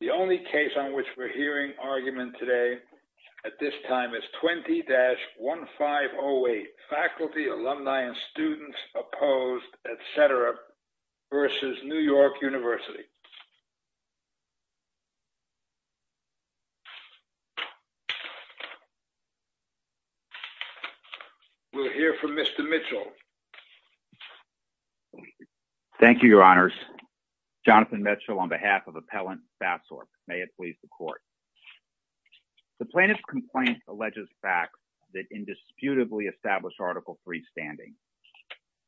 The only case on which we're hearing argument today at this time is 20-1508, Faculty, Alumni, and Students Opposed, etc. v. New York University. We'll hear from Mr. Mitchell. Thank you, Your Honors. Jonathan Mitchell on behalf of Appellant Bathsorb. May it please the Court. The plaintiff's complaint alleges facts that indisputably establish Article III standing,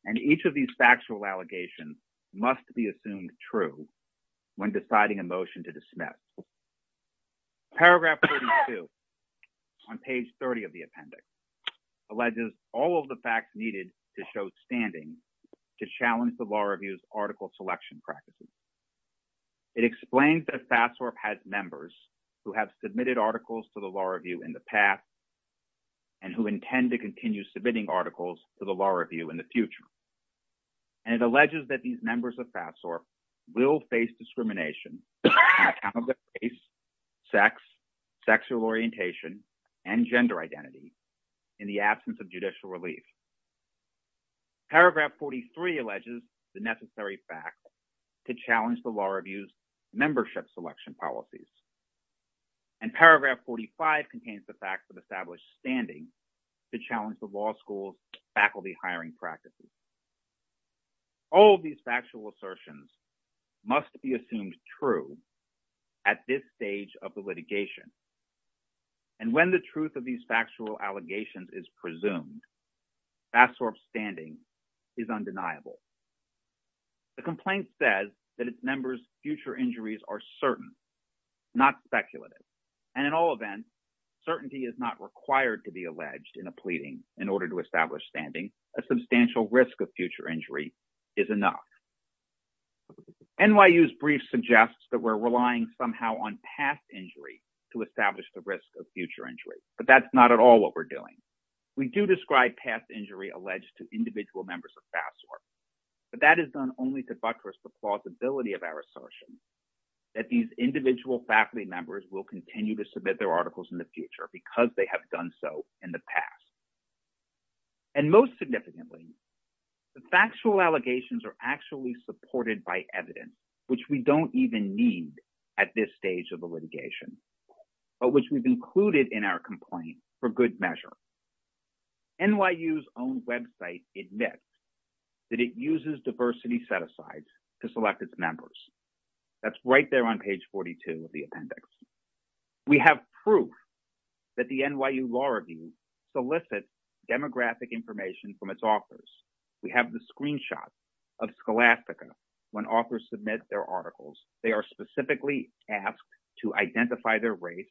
and each of these factual allegations must be assumed true when deciding a motion to dismiss. Paragraph 32 on page 30 of the appendix alleges all of the facts needed to show standing to challenge the Law Review's article selection practices. It explains that Bathsorb has members who have submitted articles to the Law Review in the past and who intend to continue submitting articles to the Law Review in the future, and it alleges that these members of Bathsorb will face discrimination on account of their race, sex, sexual orientation, and gender identity in the absence of judicial relief. Paragraph 43 alleges the necessary facts to challenge the Law Review's membership selection policies, and paragraph 45 contains the facts of established standing to challenge the law school's faculty hiring practices. All of these factual assertions must be assumed true at this stage of the litigation, and when the truth of these factual allegations is presumed, Bathsorb's standing is undeniable. The complaint says that its members' future injuries are certain, not speculative, and in all events, certainty is not required to be alleged in a pleading in order to establish standing. A substantial risk of future injury is enough. NYU's brief suggests that we're relying somehow on past injury to establish the risk of future injury, but that's not at all what we're doing. We do describe past injury alleged to individual members of Bathsorb, but that is done only to buttress the plausibility of our assertion that these individual faculty members will continue to submit their articles in the future because they have done so in the past. And most significantly, the factual allegations are actually supported by evidence, which we don't even need at this stage of the litigation, but which we've included in our complaint for good measure. NYU's own website admits that it uses diversity set-asides to select its members. That's right there on page 42 of the that the NYU Law Review solicits demographic information from its authors. We have the screenshot of Scholastica when authors submit their articles. They are specifically asked to identify their race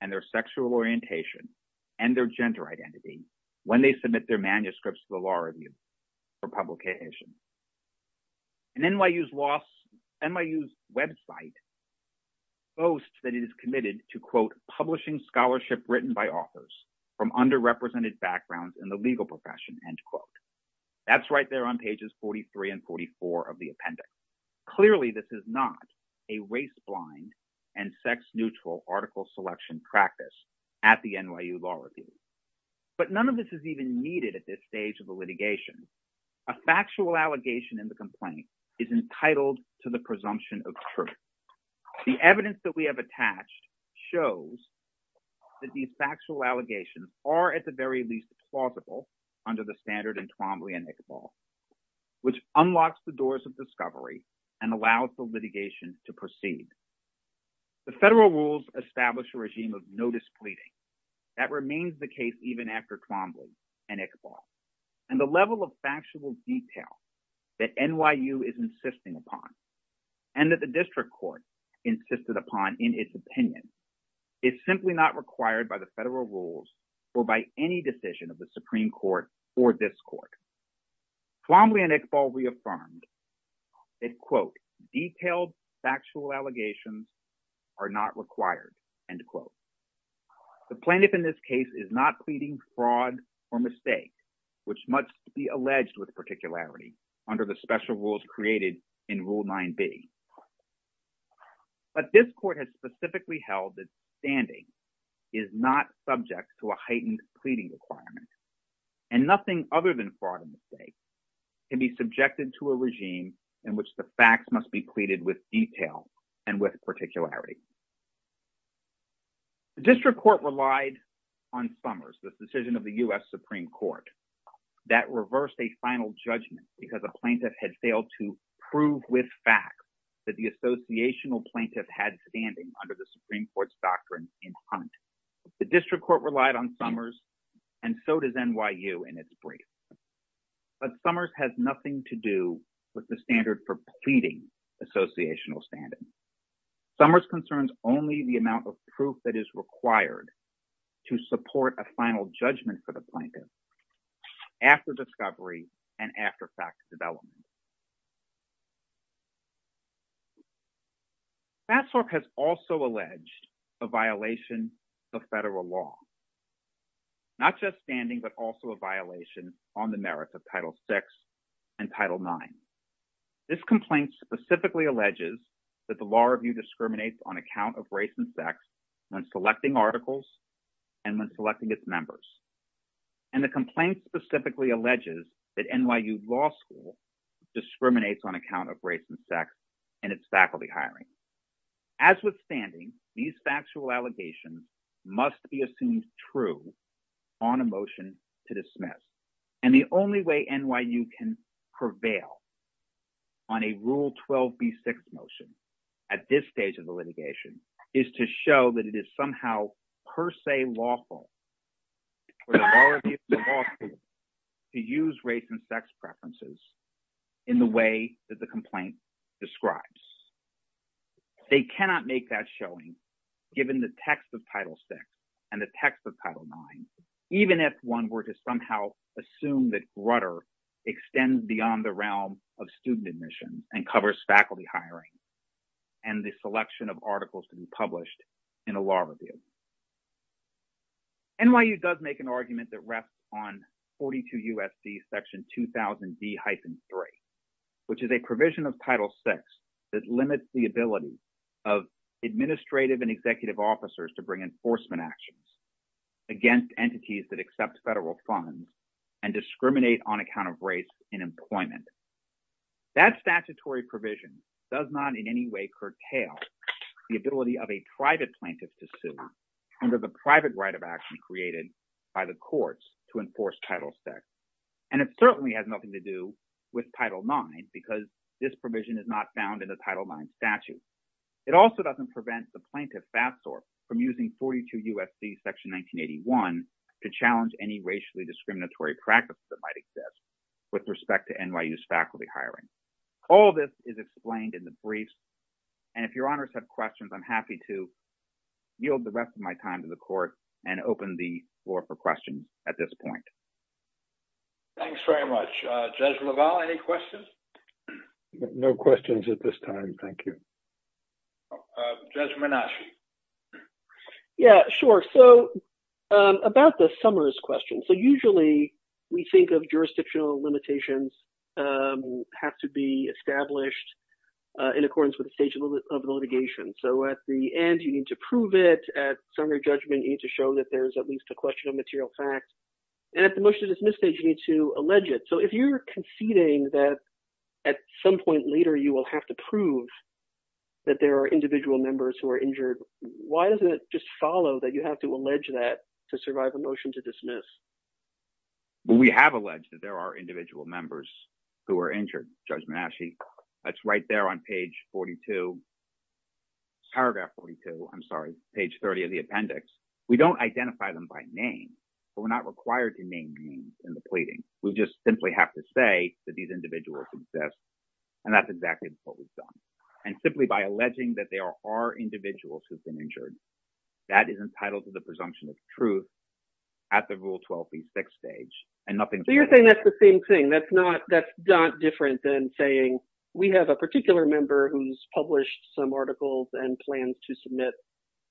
and their sexual orientation and their gender identity when they submit their manuscripts to the Law Review for publication. And NYU's website boasts that it is committed to, quote, publishing scholarship written by authors from underrepresented backgrounds in the legal profession, end quote. That's right there on pages 43 and 44 of the appendix. Clearly, this is not a race-blind and sex-neutral article selection practice at the NYU Law Review. But none of this is even needed at this stage of the litigation. A factual allegation in the complaint is entitled to the presumption of truth. The evidence that we have attached shows that these factual allegations are at the very least plausible under the standard in Twombly and Iqbal, which unlocks the doors of discovery and allows the litigation to proceed. The federal rules establish a regime of no displeasing. That remains the case even after Twombly and Iqbal. And the level of factual detail that NYU is insisting upon and that the district court insisted upon in its opinion is simply not required by the federal rules or by any decision of the Supreme Court or this court. Twombly and Iqbal reaffirmed that, quote, detailed factual allegations are not required, end quote. The plaintiff in this case is not pleading fraud or mistake, which must be alleged with particularity under the special rules created in Rule 9b. But this court has specifically held that standing is not subject to a heightened pleading requirement and nothing other than fraud and mistake can be subjected to a regime in which the facts must be pleaded with detail and with particularity. The district court relied on Summers, the decision of the U.S. Supreme Court, that reversed a final judgment because a plaintiff had failed to prove with fact that the associational plaintiff had standing under the Supreme Court's doctrine in Hunt. The district court relied on Summers and so does NYU in its brief. But Summers has nothing to do with the standing. Summers concerns only the amount of proof that is required to support a final judgment for the plaintiff after discovery and after fact development. FASTFORK has also alleged a violation of federal law, not just standing but also a violation on the merits of Title VI and Title IX. This complaint specifically alleges that the law review discriminates on account of race and sex when selecting articles and when selecting its members. And the complaint specifically alleges that NYU Law School discriminates on account of race and sex in its faculty hiring. As with standing, these factual allegations must be true on a motion to dismiss. And the only way NYU can prevail on a Rule 12B6 motion at this stage of the litigation is to show that it is somehow per se lawful to use race and sex preferences in the way that the complaint describes. They cannot make that showing given the text of Title VI and the text of Title IX, even if one were to somehow assume that Grutter extends beyond the realm of student admission and covers faculty hiring and the selection of articles to be published in a law review. NYU does make an argument that rests on 42 U.S.C. section 2000B-3, which is a provision of Title VI that limits the ability of administrative and executive officers to bring enforcement actions against entities that accept federal funds and discriminate on account of race in employment. That statutory provision does not in any way curtail the ability of a private plaintiff to sue under the private right of action created by the courts to enforce Title VI. And it certainly has nothing to do with Title IX because this provision is not found in the Title IX statute. It also doesn't prevent the plaintiff, Fatsor, from using 42 U.S.C. section 1981 to challenge any racially discriminatory practices that might exist with respect to NYU's faculty hiring. All this is explained in the briefs. And if your honors have questions, I'm happy to yield the rest of my time to the court and open the floor for questions at this point. Thanks very much. Judge LaValle, any questions? No questions at this time. Thank you. Judge Menasci. Yeah, sure. So about the Summers question. So usually we think of jurisdictional limitations have to be established in accordance with the stage of the litigation. So at the end, you need to prove it. At summary judgment, you need to show that there's at least a question of material fact. And at the motion to dismiss stage, you need to allege it. So if you're conceding that at some point later, you will have to prove that there are individual members who are injured, why doesn't it just follow that you have to allege that to survive a motion to dismiss? We have alleged that there are individual members who are injured, Judge Menasci. That's right there on page 42, paragraph 42, I'm sorry, page 30 of the appendix. We don't identify them by name, but we're not required to name names in the pleading. We just simply have to say that these individuals exist, and that's exactly what we've done. And simply by alleging that there are individuals who've been injured, that is entitled to the presumption of truth at the Rule 12b6 stage, and nothing... So you're saying that's the same thing. That's not different than saying we have a particular member who's published some articles and plans to submit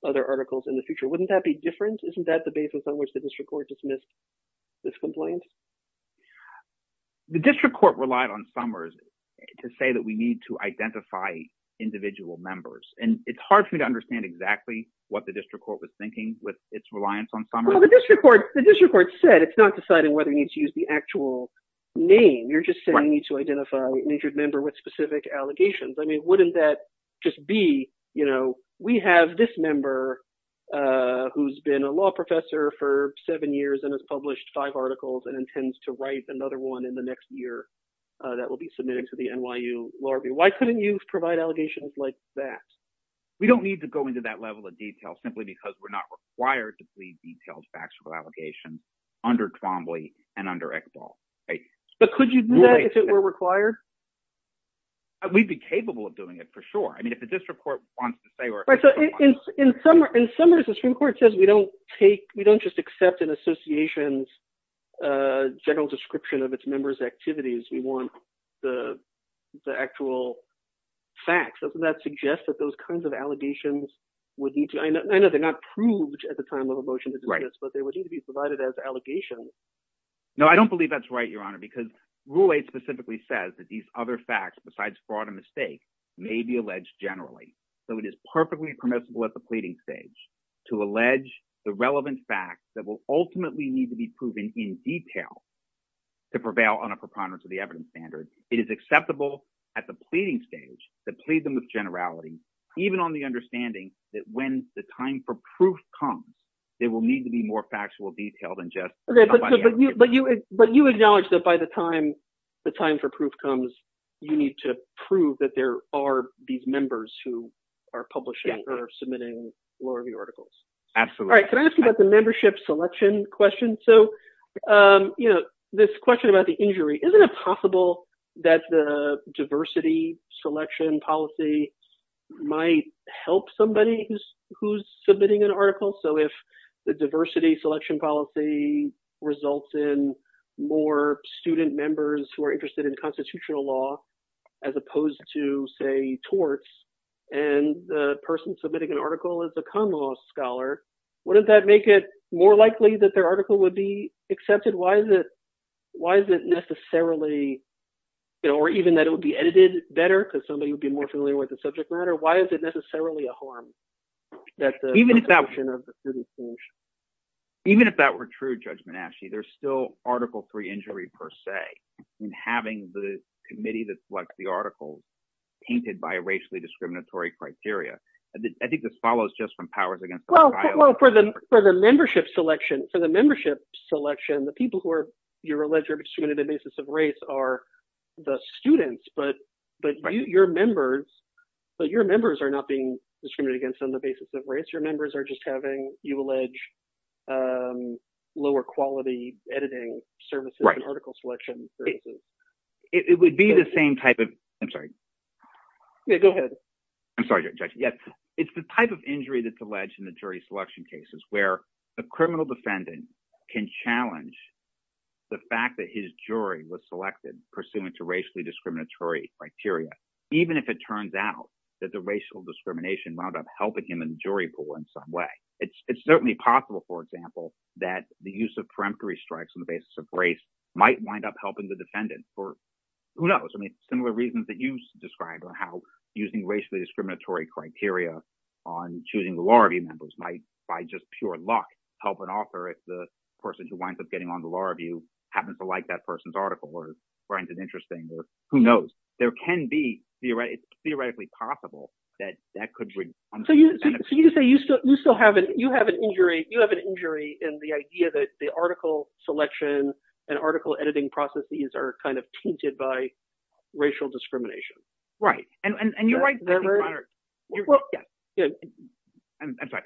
other articles in the future. Wouldn't that be different? Isn't that the basis on which the district court dismissed this complaint? The district court relied on Summers to say that we need to identify individual members, and it's hard for me to understand exactly what the district court was thinking with its reliance on Summers. Well, the district court said it's not deciding whether you need to use the actual name. You're just saying you need to identify an injured member with specific allegations. I mean, just B, we have this member who's been a law professor for seven years and has published five articles and intends to write another one in the next year that will be submitted to the NYU Law Review. Why couldn't you provide allegations like that? We don't need to go into that level of detail simply because we're not required to plead detailed factual allegations under Twombly and under ECBAL. But could you do that if it were required? We'd be capable of doing it for sure. I mean, if the district court wants to say... In Summers, the Supreme Court says we don't just accept an association's general description of its members' activities. We want the actual facts. Doesn't that suggest that those kinds of allegations would need to... I know they're not proved at the time of a motion but they would need to be provided as allegations. No, I don't believe that's right, Your Honor, because Rule 8 specifically says that these other facts, besides fraud and mistake, may be alleged generally. So it is perfectly permissible at the pleading stage to allege the relevant facts that will ultimately need to be proven in detail to prevail on a preponderance of the evidence standard. It is acceptable at the pleading stage to plead them with generality, even on the understanding that when the time for proof comes, there will need to be more factual detail than just... But you acknowledge that by the time the time for proof comes, you need to prove that there are these members who are publishing or submitting law review articles. Absolutely. All right. Can I ask you about the membership selection question? So this question about the injury, isn't it possible that the diversity selection policy might help somebody who's submitting an article? So if the diversity selection policy results in more student members who are interested in constitutional law, as opposed to, say, torts, and the person submitting an article is a con law scholar, wouldn't that make it more likely that their article would be accepted? Why is it necessarily... Or even that it would be a harm? Even if that were true, Judgment Ashy, there's still article three injury per se, and having the committee that selects the articles painted by racially discriminatory criteria. I think this follows just from powers against... Well, for the membership selection, the people who are, you're allegedly distributed on the are the students, but your members are not being discriminated against on the basis of race. Your members are just having, you allege, lower quality editing services and article selection services. It would be the same type of... I'm sorry. Yeah, go ahead. I'm sorry, Judge. Yes. It's the type of injury that's alleged in the jury selection cases where the criminal defendant can challenge the fact that his jury was selected pursuant to racially discriminatory criteria, even if it turns out that the racial discrimination wound up helping him in the jury pool in some way. It's certainly possible, for example, that the use of peremptory strikes on the basis of race might wind up helping the defendant or who knows. I mean, similar reasons that you described on how using racially discriminatory criteria on choosing the help an author if the person who winds up getting on the law review happens to like that person's article or finds it interesting or who knows. There can be, it's theoretically possible that that could... So you say you still have an injury in the idea that the article selection and article editing processes are kind of tainted by racial discrimination. Right. And you're right. I'm sorry.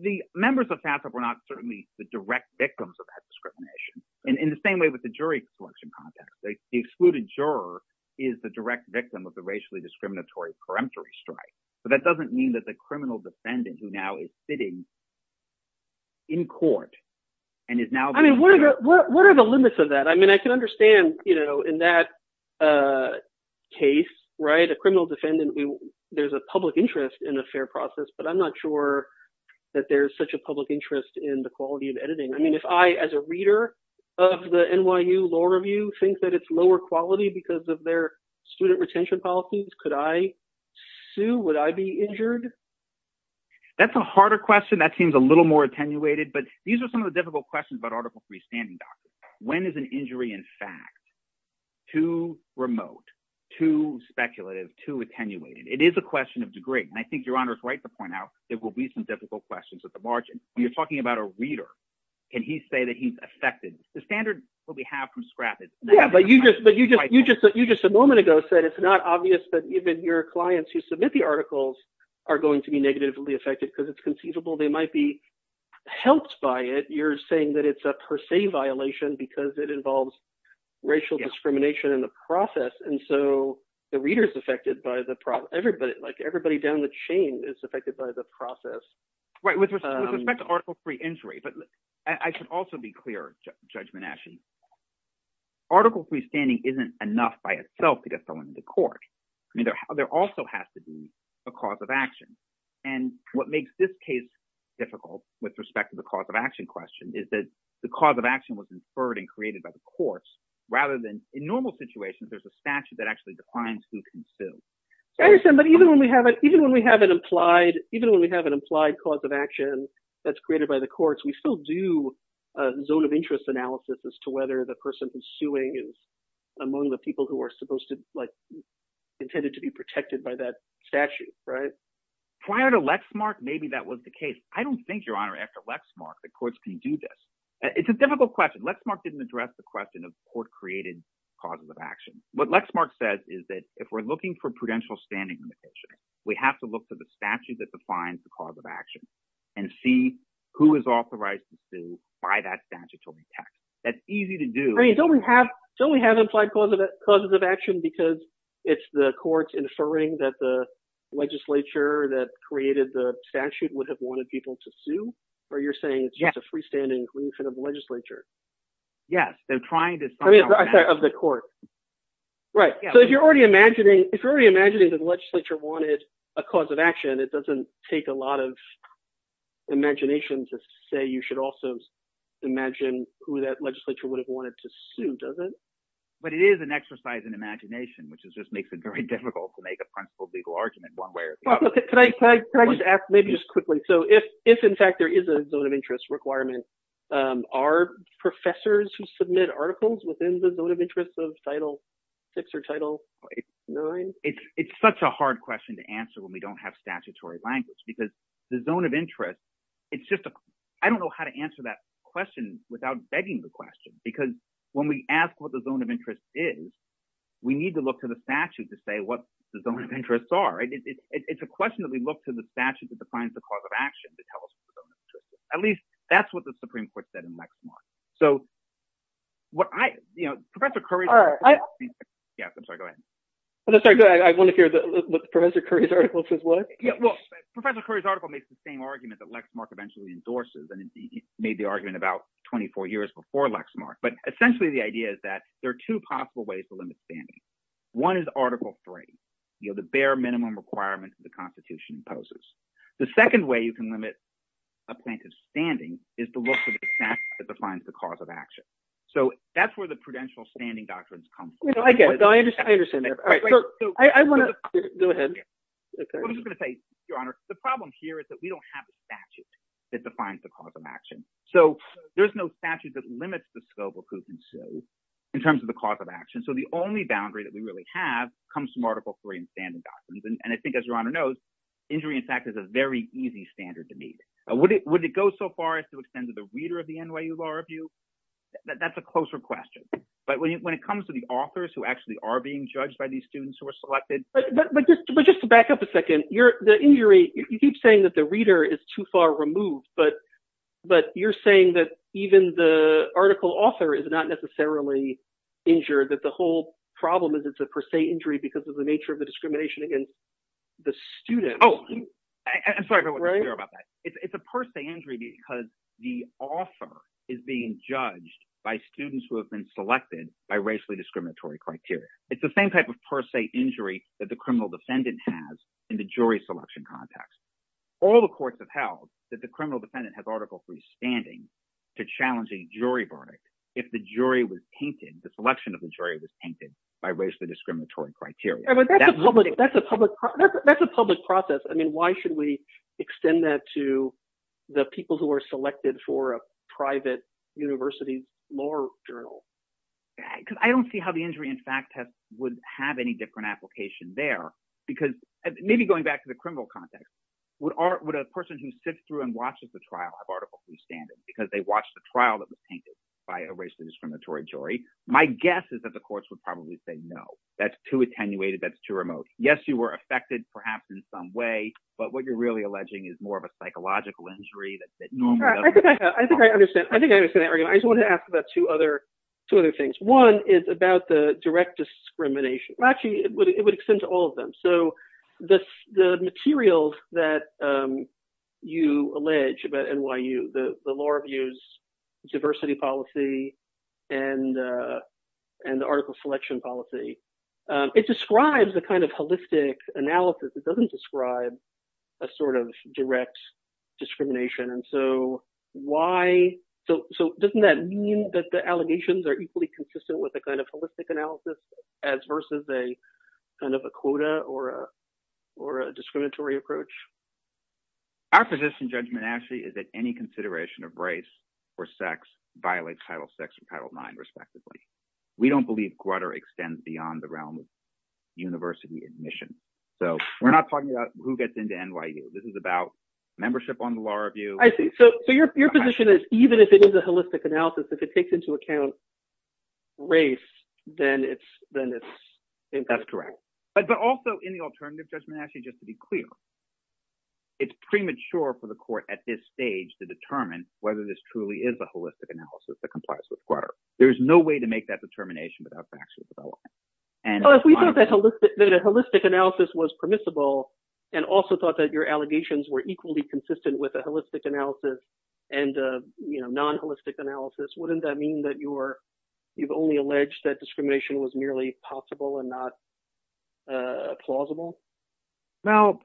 The members of FAFSA were not certainly the direct victims of that discrimination. In the same way with the jury selection context, the excluded juror is the direct victim of the racially discriminatory peremptory strike. But that doesn't mean that the criminal defendant who now is sitting in court and is now... I mean, what are the limits of that? I mean, understand in that case, a criminal defendant, there's a public interest in a fair process, but I'm not sure that there's such a public interest in the quality of editing. I mean, if I, as a reader of the NYU Law Review, think that it's lower quality because of their student retention policies, could I sue? Would I be injured? That's a harder question. That seems a little more attenuated, but these are some of the questions about Article III standing documents. When is an injury, in fact, too remote, too speculative, too attenuated? It is a question of degree. And I think Your Honor is right to point out, there will be some difficult questions at the margin. When you're talking about a reader, can he say that he's affected? The standard that we have from SCRAP is negative. But you just a moment ago said it's not obvious that even your clients who submit the articles are going to be negatively affected because it's conceivable they might be saying that it's a per se violation because it involves racial discrimination in the process. And so the reader is affected by the process. Everybody, like everybody down the chain is affected by the process. Right. With respect to Article III injury, but I should also be clear, Judge Menachie, Article III standing isn't enough by itself to get someone into court. I mean, there also has to be a cause of action. And what makes this case difficult with respect to the cause of action question is that the cause of action was inferred and created by the courts rather than in normal situations, there's a statute that actually defines who can sue. I understand. But even when we have an implied cause of action that's created by the courts, we still do a zone of interest analysis as to whether the person who's suing is among the people who are supposed to, like, intended to be protected by that statute, right? Prior to Lexmark, maybe that was the case. I don't think, Your Honor, after Lexmark, the courts can do this. It's a difficult question. Lexmark didn't address the question of court-created causes of action. What Lexmark says is that if we're looking for prudential standing limitation, we have to look to the statute that defines the cause of action and see who is authorized to sue by that statute to protect. That's easy to do. I mean, don't we have implied causes of action because it's the courts inferring that the created the statute would have wanted people to sue, or you're saying it's just a freestanding grief of the legislature? Yes, they're trying to... I mean, I'm sorry, of the court. Right. So if you're already imagining that the legislature wanted a cause of action, it doesn't take a lot of imagination to say you should also imagine who that legislature would have wanted to sue, does it? But it is an exercise in imagination, which just makes it very difficult to make a principled legal argument one way or the other. Can I just ask maybe just quickly, so if in fact there is a zone of interest requirement, are professors who submit articles within the zone of interest of Title VI or Title IX? It's such a hard question to answer when we don't have statutory language because the zone of interest, it's just a... I don't know how to answer that question without begging the question because when we ask what the zone of interest is, we need to look to the statute to say what the zone of interests are. It's a question that we look to the statute that defines the cause of action to tell us what the zone of interest is. At least that's what the Supreme Court said in Lexmark. So what I... Professor Curry's... All right, I... Yes, I'm sorry, go ahead. I'm sorry, go ahead. I want to hear what Professor Curry's article says what. Well, Professor Curry's article makes the same argument that Lexmark eventually endorses, and he made the argument about 24 years before Lexmark. But essentially the idea is that there are two possible ways to limit standing. One is Article III, the bare minimum requirement that the Constitution imposes. The second way you can limit a plaintiff's standing is to look to the statute that defines the cause of action. So that's where the prudential standing doctrines come from. I get it. I understand that. I want to... Go ahead. I'm just going to say, Your Honor, the problem here is that we don't have a statute that defines the cause of action. So there's no statute that limits the scope of who can sue in terms of the cause of action. So the only boundary that we really have comes from Article III and standing doctrines. And I think, as Your Honor knows, injury, in fact, is a very easy standard to meet. Would it go so far as to extend to the reader of the NYU Law Review? That's a closer question. But when it comes to the authors who actually are being judged by these students who are selected... But just to back up a second, the injury, you keep saying that the reader is too far removed, but you're saying that even the article author is not necessarily injured, that the whole problem is it's a per se injury because of the nature of the discrimination against the students. Oh, I'm sorry if I wasn't clear about that. It's a per se injury because the author is being judged by students who have been selected by racially discriminatory criteria. It's the same type of per se injury that the criminal defendant has in the jury selection context. All the courts have held that the criminal defendant has Article III standing to challenge a jury verdict if the jury was painted, the selection of the jury was painted by racially discriminatory criteria. That's a public process. I mean, why should we extend that to the people who are selected for a private university law journal? Because I don't see how the injury, in fact, would have any different application there because maybe going back to the criminal context, would a person who sits through and watches the trial have Article III standing because they watched the trial that was painted by a racially discriminatory jury? My guess is that the courts would probably say, no, that's too attenuated, that's too remote. Yes, you were affected perhaps in some way, but what you're really alleging is more of a psychological injury that normally doesn't... I think I understand. I think I understand that argument. I just wanted to ask about two other things. One is about the direct discrimination. Actually, it would extend to all of them. So the materials that you allege about NYU, the Law Review's diversity policy and the article selection policy, it describes the kind of holistic analysis. It doesn't describe a sort of direct discrimination. And so why... So doesn't that mean that the allegations are equally consistent with a kind of holistic analysis as versus a kind of a quota or a discriminatory approach? Our position, judgment, actually, is that any consideration of race or sex violates Title VI or Title IX, respectively. We don't believe grutter extends beyond the realm of university admission. So we're not talking about who gets into NYU. This is about membership on the Law Review. I see. So your position is even if it is a holistic analysis, if it takes into account race, then it's... That's correct. But also in the alternative judgment, actually, just to be clear, it's premature for the court at this stage to determine whether this truly is a holistic analysis that complies with grutter. There's no way to make that determination without factual development. Well, if we thought that a holistic analysis was permissible and also thought that your wouldn't that mean that you've only alleged that discrimination was merely possible and not plausible? Well,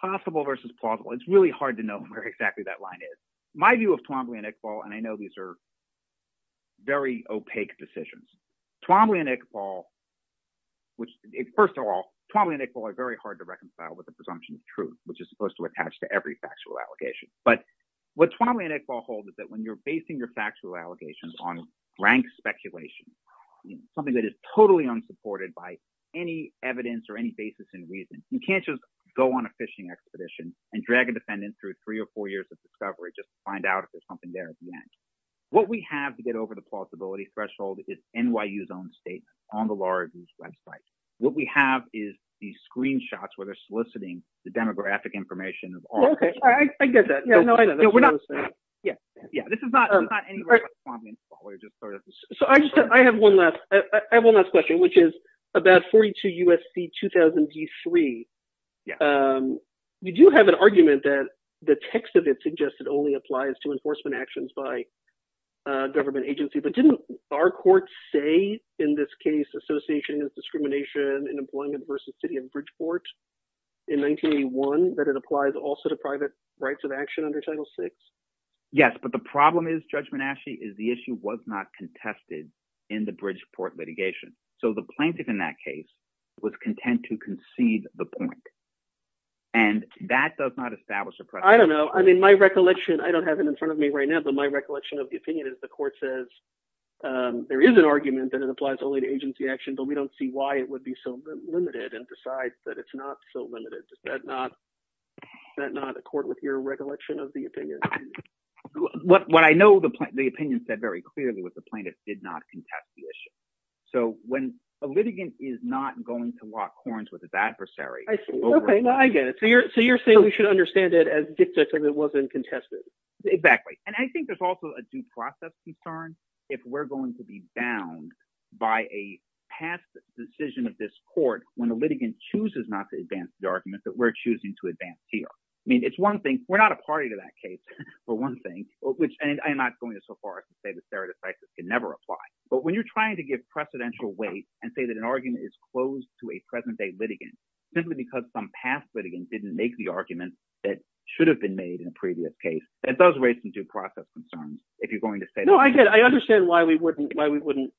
possible versus plausible, it's really hard to know where exactly that line is. My view of Twombly and Iqbal, and I know these are very opaque decisions, Twombly and Iqbal, which first of all, Twombly and Iqbal are very hard to reconcile with the presumption of truth, which is supposed to attach to every factual allegation. But what Twombly and Iqbal hold is that when you're basing your factual allegations on rank speculation, something that is totally unsupported by any evidence or any basis in reason, you can't just go on a fishing expedition and drag a defendant through three or four years of discovery just to find out if there's something there at the end. What we have to get over the plausibility threshold is NYU's own state on the law review's website. What we have is the screenshots where they're soliciting the demographic information. I get that. I have one last question, which is about 42 U.S.C. 2003. You do have an argument that the text of it suggested only applies to enforcement actions by government agency, but didn't our courts say in this case, association is discrimination in employment versus city of Bridgeport in 1981, that it applies also to private rights of action under Title VI? Yes, but the problem is, Judge Menasche, is the issue was not contested in the Bridgeport litigation. So the plaintiff in that case was content to concede the point, and that does not establish a precedent. I don't know. I mean, my recollection, I don't have it in front of me right now, but my recollection of the opinion is the court says there is an argument that it applies only to agency action, but we don't see why it would be so limited and decides that it's not so limited. Does that not accord with your recollection of the opinion? What I know the opinion said very clearly was the plaintiff did not contest the issue. So when a litigant is not going to lock horns with his adversary... Okay, now I get it. So you're saying we should understand it as dictating it wasn't contested. Exactly. And I think there's also a due process concern if we're going to be bound by a past decision of this court when a litigant chooses not to advance the argument that we're choosing to advance here. I mean, it's one thing, we're not a party to that case, but one thing, which I'm not going to so far as to say that stare decisis can never apply. But when you're trying to give precedential weight and say that an argument is closed to a present day litigant simply because some past litigant didn't make the argument that should have been made in a previous case, that does raise some due process concerns if you're going to say... I understand why we wouldn't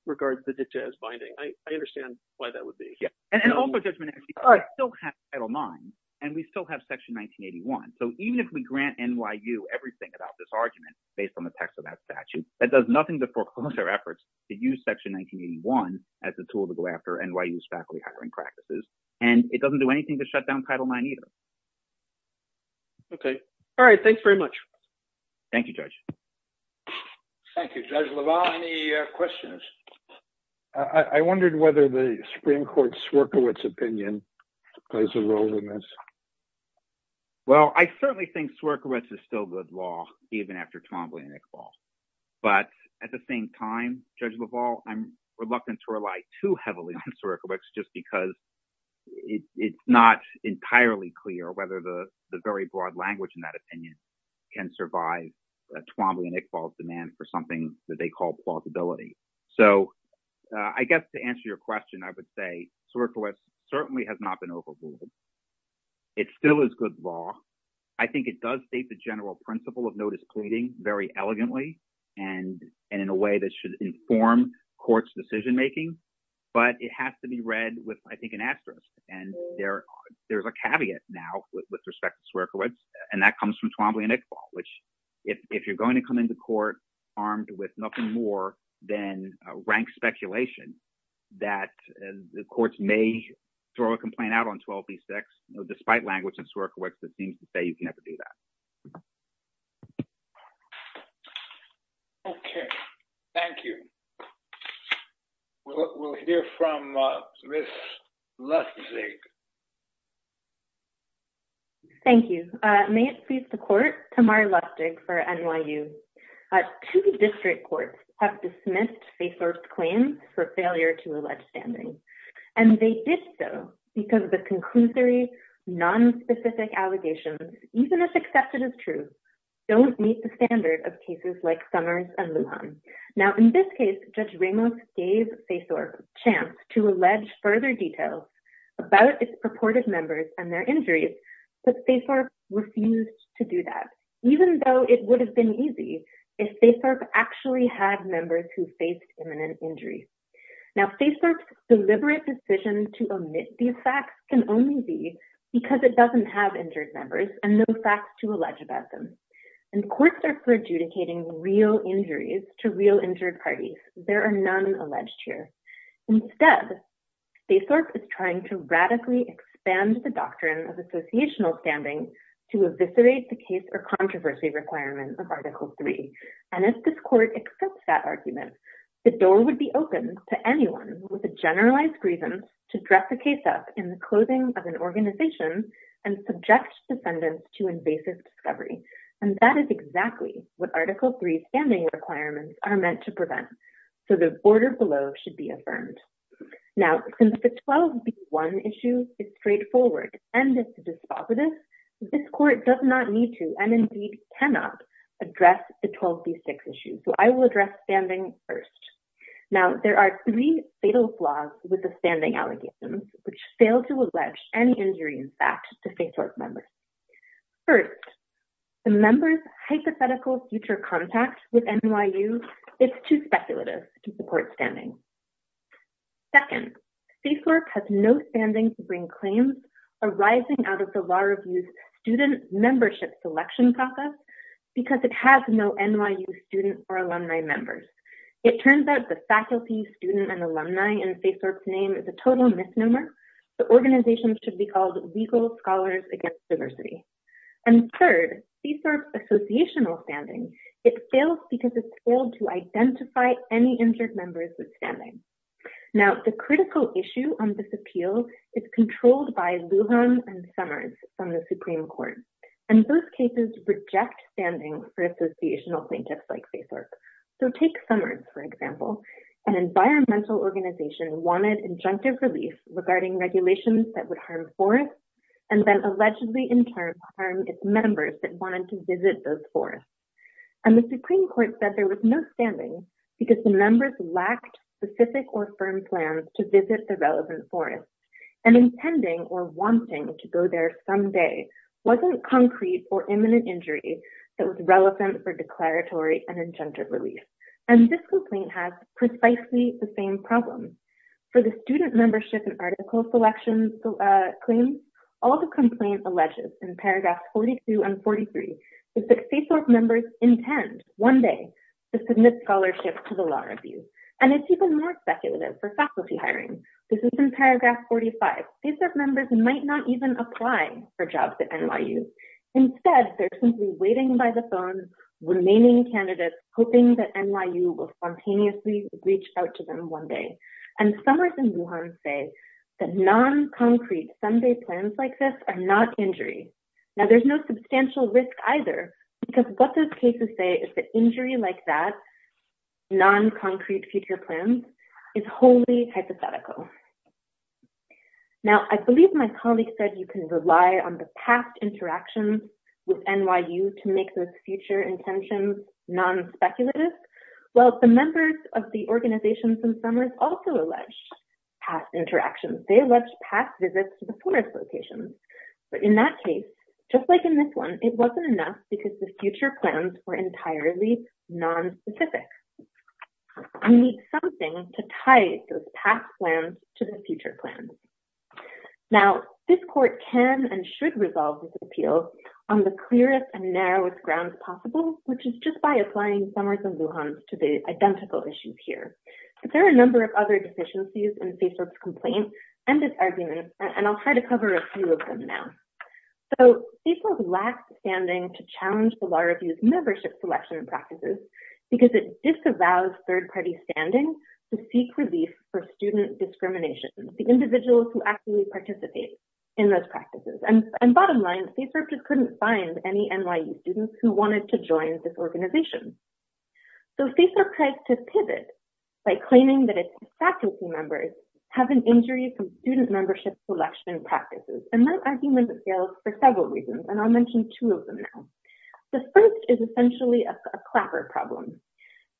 regard the dictate as binding. I understand why that would be. Yeah. And also, Judge Menendez, we still have Title IX and we still have Section 1981. So even if we grant NYU everything about this argument based on the text of that statute, that does nothing to foreclose our efforts to use Section 1981 as a tool to go after NYU's faculty hiring practices. And it doesn't do anything to shut down Title IX either. Okay. All right. Thanks very much. Thank you, Judge. Thank you, Judge LaValle. Any questions? I wondered whether the Supreme Court's Swerkiewicz opinion plays a role in this. Well, I certainly think Swerkiewicz is still good law even after Tom Blanick falls. But at the same time, Judge LaValle, I'm reluctant to rely too heavily on Swerkiewicz just because it's not entirely clear whether the very broad language in that opinion can survive Tom Blanick's demand for something that they call plausibility. So I guess to answer your question, I would say Swerkiewicz certainly has not been overruled. It still is good law. I think it does state the general principle of no displeasing very elegantly and in a way that should inform court's decision-making. But it has to be read with, I think, an asterisk. And there's a caveat now with respect to Swerkiewicz, and that comes from Tom Blanick's fall, which if you're going to come into court armed with nothing more than rank speculation that the courts may throw a complaint out on 12B6, despite language in Swerkiewicz that seems to say you can never do that. Okay. Thank you. We'll hear from Ms. Lustig. Thank you. May it please the court, Tamar Lustig for NYU. Two district courts have dismissed faith-sourced claims for failure to allege standing. And they did so because of the conclusory, nonspecific allegations, even if accepted as true, don't meet the standard of cases like Summers and Lujan. Now, in this case, Judge Ramos gave faith-sourced a chance to allege further details about its purported members and their injuries, but faith-sourced refused to do that, even though it would have been easy if faith-sourced actually had members who faced imminent injury. Now, faith-sourced's deliberate decision to omit these facts can only be because it doesn't have injured members and no facts to allege about them. And courts are perjudicating real injuries to real injured parties. There are none alleged here. Instead, faith-sourced is trying to radically expand the doctrine of associational standing to eviscerate the case or controversy requirement of Article III. And if this court accepts that argument, the door would be opened to anyone with a generalized reason to dress a case up in the clothing of an organization and subject defendants to invasive discovery. And that is exactly what Article III standing requirements are meant to prevent. So the border below should be affirmed. Now, since the 12B1 issue is straightforward and it's dispositive, this court does not need to, and indeed cannot, address the 12B6 issue. So I will address standing first. Now, there are three fatal flaws with the standing allegations, which fail to allege any injury in fact to faith-sourced members. First, the members' hypothetical future contact with NYU is too speculative to support standing. Second, faith-sourced has no standing to bring claims arising out of the law review's membership selection process because it has no NYU student or alumni members. It turns out the faculty, student, and alumni in faith-sourced name is a total misnomer. The organization should be called Legal Scholars Against Diversity. And third, faith-sourced associational standing, it fails because it's failed to identify any injured members with standing. Now, the critical issue on this appeal is controlled by Lujan and Summers from the Supreme Court. And those cases reject standing for associational plaintiffs like faith-sourced. So take Summers, for example. An environmental organization wanted injunctive relief regarding regulations that would harm forests and then allegedly in turn harm its members that wanted to visit those forests. And the Supreme Court rejected the relevant forest. And intending or wanting to go there someday wasn't concrete or imminent injury that was relevant for declaratory and injunctive relief. And this complaint has precisely the same problem. For the student membership and article selection claims, all the complaint alleges in paragraph 42 and 43 that faith-sourced members intend one day to submit to the law review. And it's even more speculative for faculty hiring. This is in paragraph 45. Faith-sourced members might not even apply for jobs at NYU. Instead, they're simply waiting by the phone, remaining candidates, hoping that NYU will spontaneously reach out to them one day. And Summers and Lujan say that non-concrete Sunday plans like this are not injury. Now, there's no non-concrete future plans. It's wholly hypothetical. Now, I believe my colleague said you can rely on the past interactions with NYU to make those future intentions non-speculative. Well, the members of the organizations in Summers also alleged past interactions. They alleged past visits to the forest locations. But in that case, just like in this one, it wasn't enough because the future plans were entirely non-specific. You need something to tie those past plans to the future plans. Now, this court can and should resolve this appeal on the clearest and narrowest grounds possible, which is just by applying Summers and Lujan to the identical issues here. But there are a number of other deficiencies in faith-sourced complaints and this argument, and I'll try to cover a few of them now. So, faith-sourced lacks standing to challenge the law review's membership selection practices because it disavows third-party standing to seek relief for student discrimination, the individuals who actually participate in those practices. And bottom line, faith-sourced just couldn't find any NYU students who wanted to join this organization. So, faith-sourced tries to pivot by claiming that its faculty members have an injury from student membership selection practices. And that argument fails for several reasons, and I'll mention two of them now. The first is essentially a clapper problem.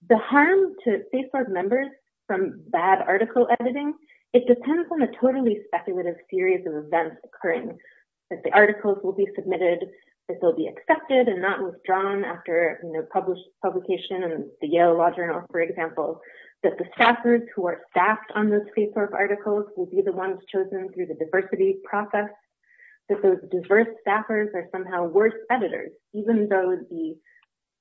The harm to faith-sourced members from bad article editing, it depends on a totally speculative series of events occurring, that the articles will be submitted, that they'll be accepted and not withdrawn after publication in the Yale Law Journal, for example, that the staffers who are faith-sourced articles will be the ones chosen through the diversity process, that those diverse staffers are somehow worse editors, even though the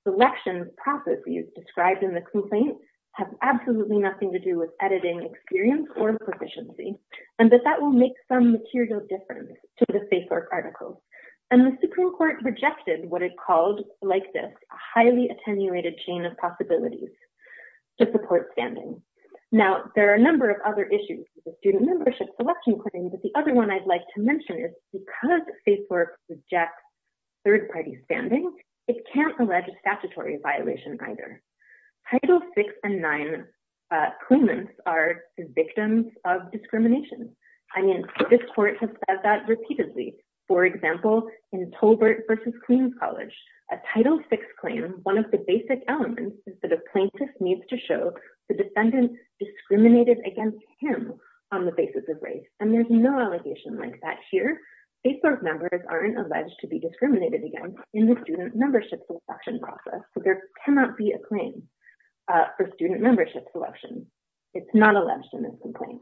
selection processes described in the complaint have absolutely nothing to do with editing experience or proficiency, and that that will make some material difference to the faith-sourced articles. And the Supreme Court rejected what it called, like this, a highly attenuated chain of possibilities to support standing. Now, there are a number of other issues with the student membership selection claims, but the other one I'd like to mention is because faith-sourced rejects third-party standing, it can't allege a statutory violation either. Title VI and IX claimants are victims of discrimination. I mean, this court has said that repeatedly. For example, in Tolbert v. Queens College, a Title VI claim, one of the basic elements is that a plaintiff needs to show the defendant discriminated against him on the basis of race, and there's no allegation like that here. Faith-sourced members aren't alleged to be discriminated against in the student membership selection process, so there cannot be a claim for student membership selection. It's not alleged in this complaint.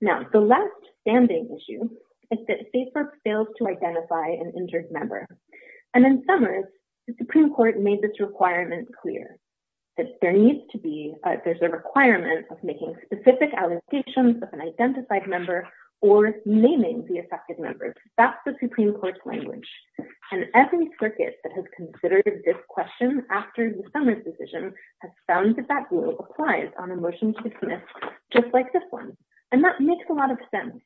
Now, the last standing issue is that faith-sourced fails to identify an injured member, and in this case, the Supreme Court has made this requirement clear, that there needs to be, there's a requirement of making specific allocations of an identified member or naming the affected members. That's the Supreme Court's language, and every circuit that has considered this question after the Summers decision has found that that rule applies on a motion to dismiss just like this one, and that makes a lot of sense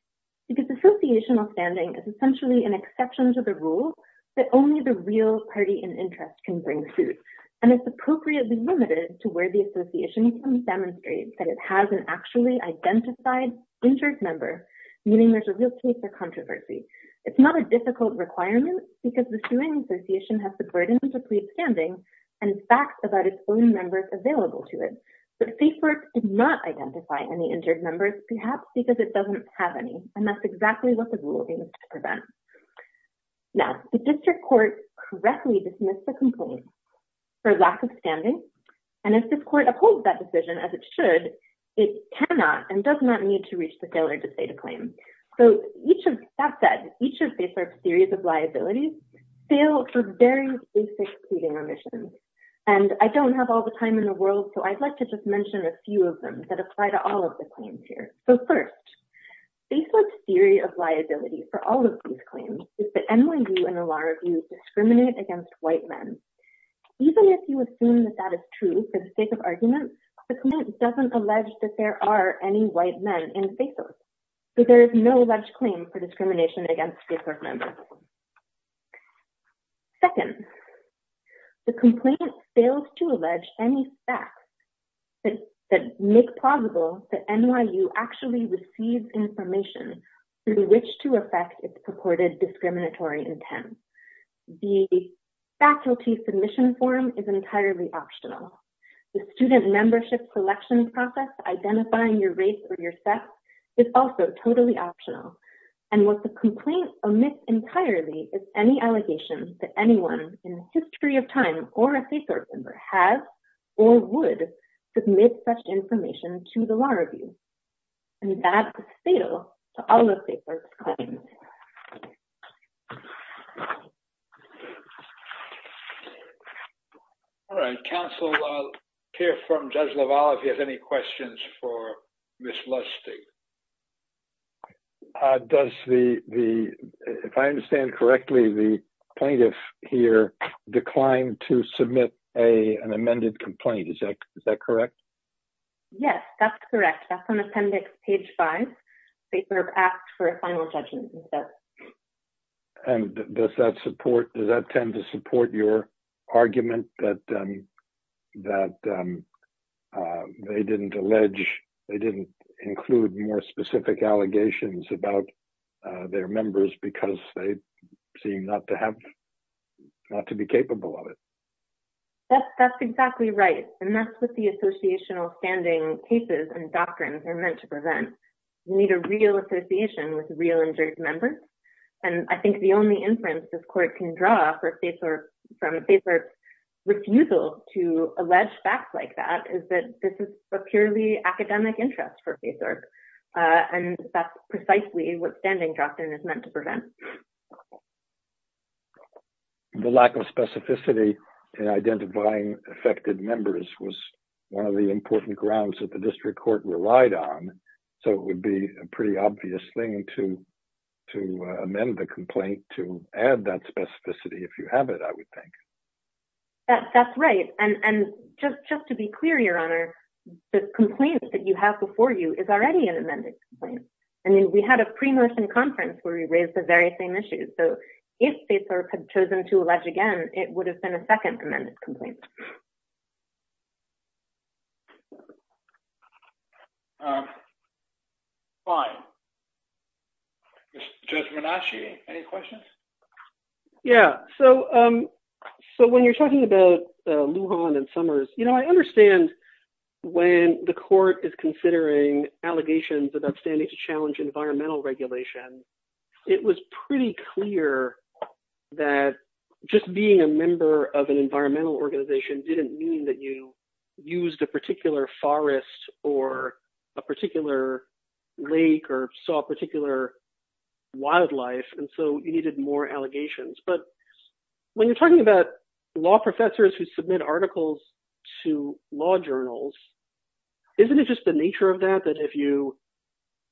because associational standing is essentially an exception to the rule that only the real party in interest can bring suit, and it's appropriately limited to where the association demonstrates that it has an actually identified injured member, meaning there's a real case for controversy. It's not a difficult requirement because the suing association has the burden to plead standing and facts about its own members available to it, but faith-sourced did not identify any injured members, perhaps because it doesn't have any, and that's exactly what the rule aims to prevent. Now, the district court correctly dismissed the complaint for lack of standing, and if this court upholds that decision as it should, it cannot and does not need to reach the failure to state a claim. So, each of, that said, each of faith-sourced theories of liability fail for very basic pleading omissions, and I don't have all the time in the world, so I'd like to just mention a few of them that apply to all of the claims here. So, first, faith-sourced theory of liability for all of these claims is that NYU and the Law Review discriminate against white men. Even if you assume that that is true for the sake of argument, the complaint doesn't allege that there are any white men in faith-sourced, so there is no alleged claim for discrimination against faith-sourced members. Second, the complaint fails to allege any facts that make plausible that NYU actually receives information through which to affect its purported discriminatory intent. The faculty submission form is entirely optional. The student membership collection process identifying your race or your And what the complaint omits entirely is any allegation that anyone in the history of time or a faith-sourced member has or would submit such information to the Law Review, and that is fatal to all of faith-sourced claims. All right, counsel, I'll hear from Judge LaValle if he has any questions for Ms. Lustig. Does the, if I understand correctly, the plaintiff here declined to submit an amended complaint. Is that correct? Yes, that's correct. That's on appendix page five. They were asked for a final judgment instead. And does that support, does that tend to support your argument that they didn't allege, they didn't include more specific allegations about their members because they seem not to have, not to be capable of it? That's exactly right. And that's what the associational standing cases and doctrines are meant to prevent. You need a real association with real injured members. And I think the only inference this court can draw from faith-sourced refusal to allege facts like that is that this is a purely academic interest for faith-sourced, and that's precisely what standing doctrine is meant to prevent. The lack of specificity in identifying affected members was one of the important grounds that district court relied on, so it would be a pretty obvious thing to amend the complaint to add that specificity if you have it, I would think. That's right. And just to be clear, Your Honor, the complaint that you have before you is already an amended complaint. I mean, we had a pre-Northern conference where we raised the very same issues. So if states had chosen to allege again, it would have been a second amended complaint. Um, fine. Judge Menasci, any questions? Yeah, so when you're talking about Lujan and Summers, you know, I understand when the court is considering allegations of upstanding to challenge environmental regulation, it was pretty clear that just being a member of an environmental organization didn't mean that you used a particular forest or a particular lake or saw particular wildlife, and so you needed more allegations. But when you're talking about law professors who submit articles to law journals, isn't it just the nature of that, that if you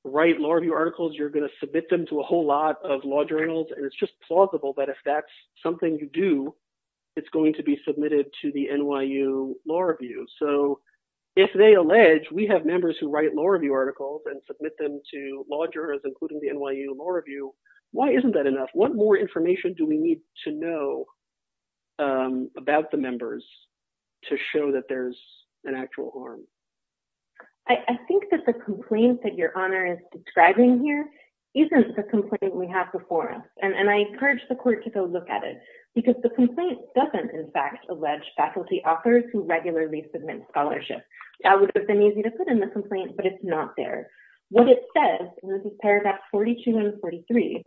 write law review articles, you're going to submit them to a whole lot of law journals? And it's just plausible that if that's something you do, it's going to be law review articles and submit them to law journals, including the NYU Law Review. Why isn't that enough? What more information do we need to know about the members to show that there's an actual harm? I think that the complaint that your honor is describing here isn't the complaint we have before us. And I encourage the court to go look at it because the complaint doesn't in fact allege faculty authors who regularly submit scholarship. That would have been easy to put in the complaint, but it's not there. What it says, and this is paragraphs 42 and 43,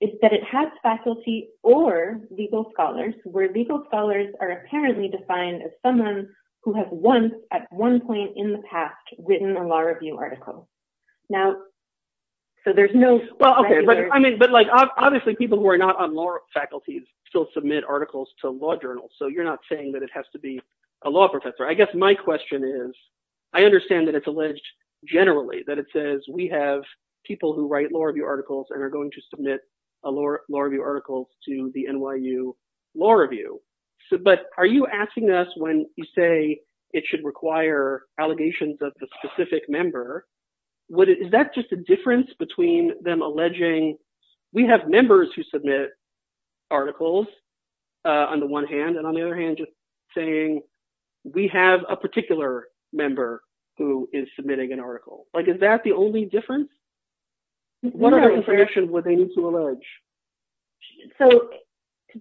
is that it has faculty or legal scholars, where legal scholars are apparently defined as someone who has once, at one point in the past, written a law review article. Now, so there's no... Well, okay, but I mean, but like obviously people who are not on law faculties still submit articles to law journals, so you're not saying that it has to be a law professor. I guess my question is, I understand that it's alleged generally that it says we have people who write law review articles and are going to submit a law review article to the NYU Law Review, but are you asking us when you say it should require allegations of the specific member, is that just a difference between them alleging we have members who submit articles on the one hand and on the other hand saying we have a particular member who is submitting an article? Like is that the only difference? What other information would they need to allege? So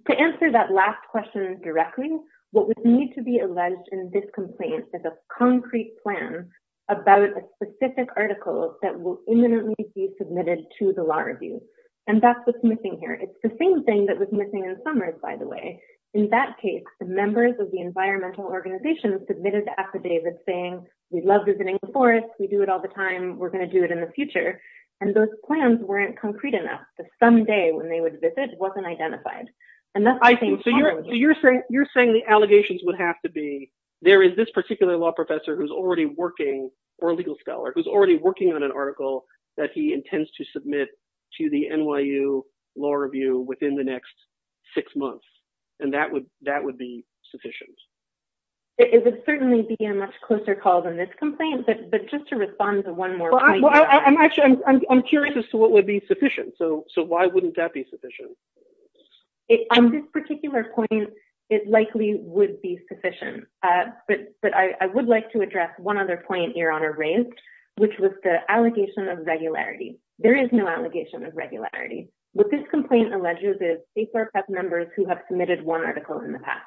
to answer that last question directly, what would need to be alleged in this complaint is a concrete plan about a specific article that will imminently be submitted to the law review, and that's what's missing here. It's the same thing that was missing in Summers, by the way. In that case, the members of the environmental organization submitted the affidavit saying we love visiting the forest, we do it all the time, we're going to do it in the future, and those plans weren't concrete enough. The someday when they would visit wasn't identified. So you're saying the allegations would have to be there is this particular law professor who's already working, or legal scholar, who's already submit to the NYU law review within the next six months, and that would be sufficient? It would certainly be a much closer call than this complaint, but just to respond to one more point. Well, I'm actually, I'm curious as to what would be sufficient. So why wouldn't that be sufficient? On this particular point, it likely would be sufficient, but I would like to address one other point your honor raised, which was the allegation of regularity. There is no allegation of regularity. What this complaint alleges is State Fair Press members who have submitted one article in the past.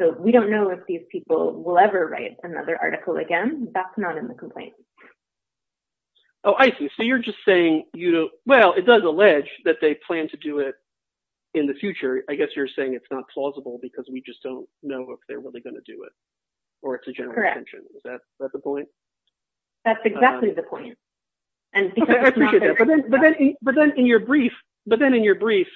So we don't know if these people will ever write another article again. That's not in the complaint. Oh, I see. So you're just saying, you know, well, it does allege that they plan to do it in the future. I guess you're saying it's not plausible because we just don't know if they're really going to do it, or it's a general intention. Is that the point? That's exactly the point. But then in your brief,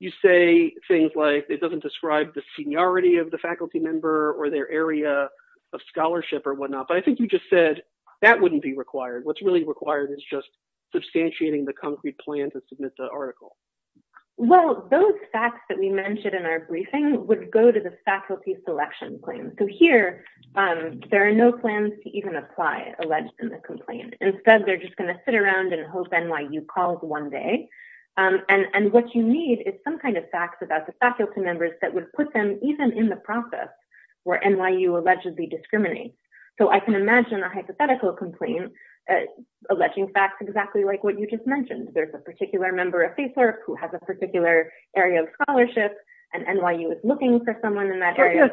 you say things like it doesn't describe the seniority of the faculty member or their area of scholarship or whatnot, but I think you just said that wouldn't be required. What's really required is just substantiating the concrete plan to submit the article. Well, those facts that we mentioned in our briefing would go to the faculty selection claim. So here there are no plans to even apply alleged in the complaint. Instead, they're just going to sit around and hope NYU calls one day. And what you need is some kind of facts about the faculty members that would put them even in the process where NYU allegedly discriminates. So I can imagine a hypothetical complaint alleging facts exactly like what you just mentioned. There's a particular member of Facebook who has a particular area of scholarship and NYU is looking for someone in that area.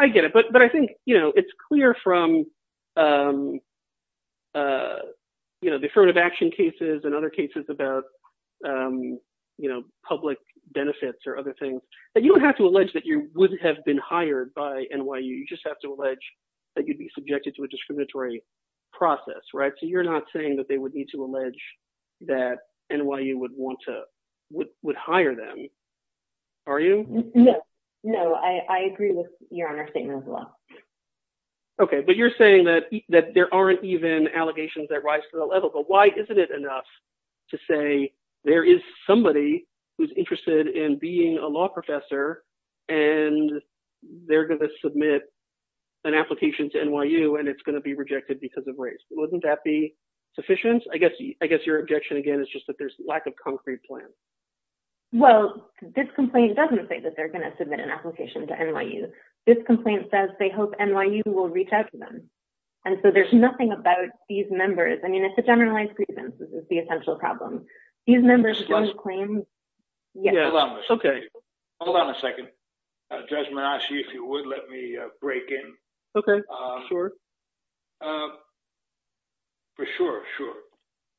I get it. But I think it's clear from the affirmative action cases and other cases about public benefits or other things that you don't have to allege that you wouldn't have been hired by NYU. You just have to allege that you'd be subjected to a discriminatory process. So you're not saying that they would to allege that NYU would hire them, are you? No, I agree with your statement as well. Okay, but you're saying that there aren't even allegations that rise to the level, but why isn't it enough to say there is somebody who's interested in being a law professor and they're going to submit an application to NYU and it's going to be rejected because of race. Wouldn't that be sufficient? I guess your objection again is just that there's lack of concrete plan. Well, this complaint doesn't say that they're going to submit an application to NYU. This complaint says they hope NYU will reach out to them. And so there's nothing about these members. I mean, it's a generalized grievance. This is the essential problem. These members don't claim. Hold on a second. Judge Manasci, if you would let me break in. For sure, sure.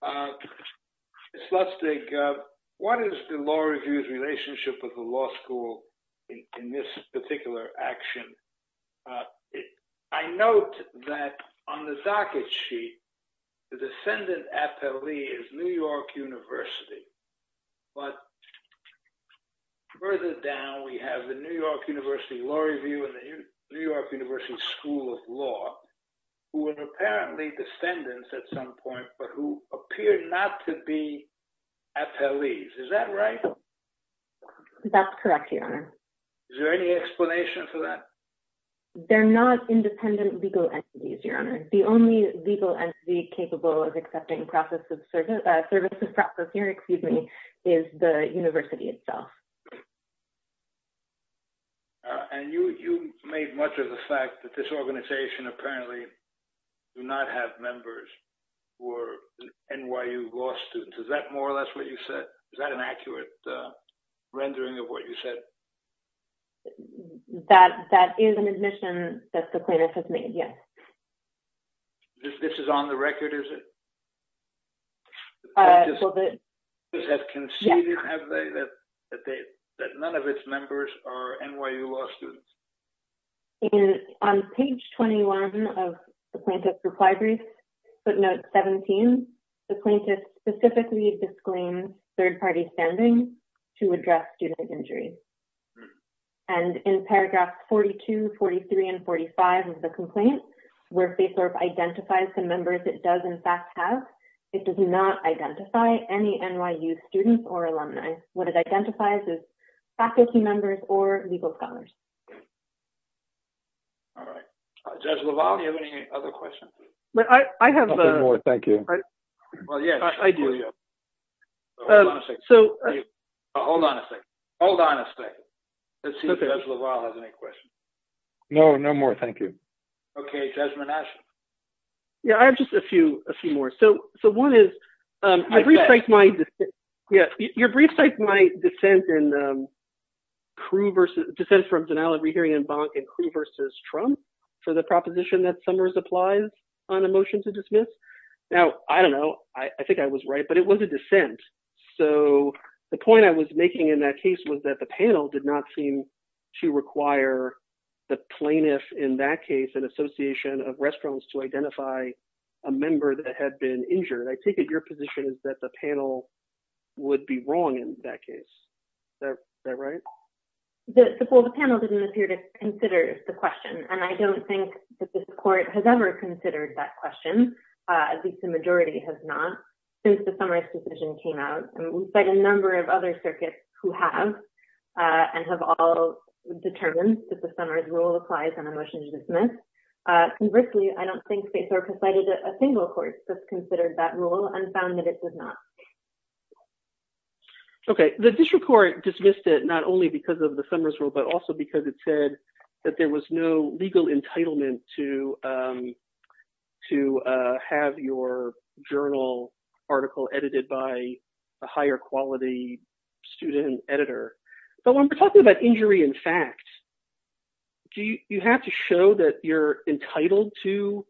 Ms. Lustig, what is the law review's relationship with the law school in this particular action? I note that on the docket sheet, the descendant appellee is New York University. But further down, we have the New York University Law Review and the New York Law Review. And so they're not independent legal entities, Your Honor. The only legal entity capable of accepting process of service, the service of process here, excuse me, is the university itself. And you made much of the fact that this organization apparently do not have members who are NYU law students. Is that more or less what you said? Is that an accurate rendering of what you said? That is an admission that the plaintiff has made, yes. This is on the record, is it? Does that concede that none of its members are NYU law students? And on page 21 of the plaintiff's reply brief, footnote 17, the plaintiff specifically disclaims third-party standing to address student injury. And in paragraphs 42, 43, and 45 of the complaint, where Facebook identifies the members it does in fact have, it does not identify any NYU students or alumni. What it identifies is faculty members or legal scholars. All right. Judge LaValle, do you have any other questions? I have a- No more, thank you. Well, yes. I do. Hold on a second. Hold on a second. Let's see if Judge LaValle has any questions. No, no more, thank you. Okay. Judge Manasseh. Yeah, I have just a few more. So one is- I bet. Yeah. Your brief cites my dissent from Denial of Rehearing and Bonk in Crew versus Trump for the proposition that Summers applies on a motion to dismiss. Now, I don't know. I think I was right, but it was a dissent. So the point I was making in that case was that the panel did not seem to require the plaintiff in that case, an association of restaurants to identify a member that had been injured. I take it your position is that the panel would be wrong in that case. Is that right? Well, the panel didn't appear to consider the question, and I don't think that this court has ever considered that question, at least the majority has not, since the Summers decision came out. And we've cited a number of other circuits who have and have all determined that the Summers rule applies on a motion to dismiss. Conversely, I don't think they cited a single court that's considered that rule and found that it does not. Okay. The district court dismissed it not only because of the Summers rule, but also because it said that there was no legal entitlement to have your journal article edited by a higher quality student editor. But when we're talking about injury in fact, do you have to show that you're entitled to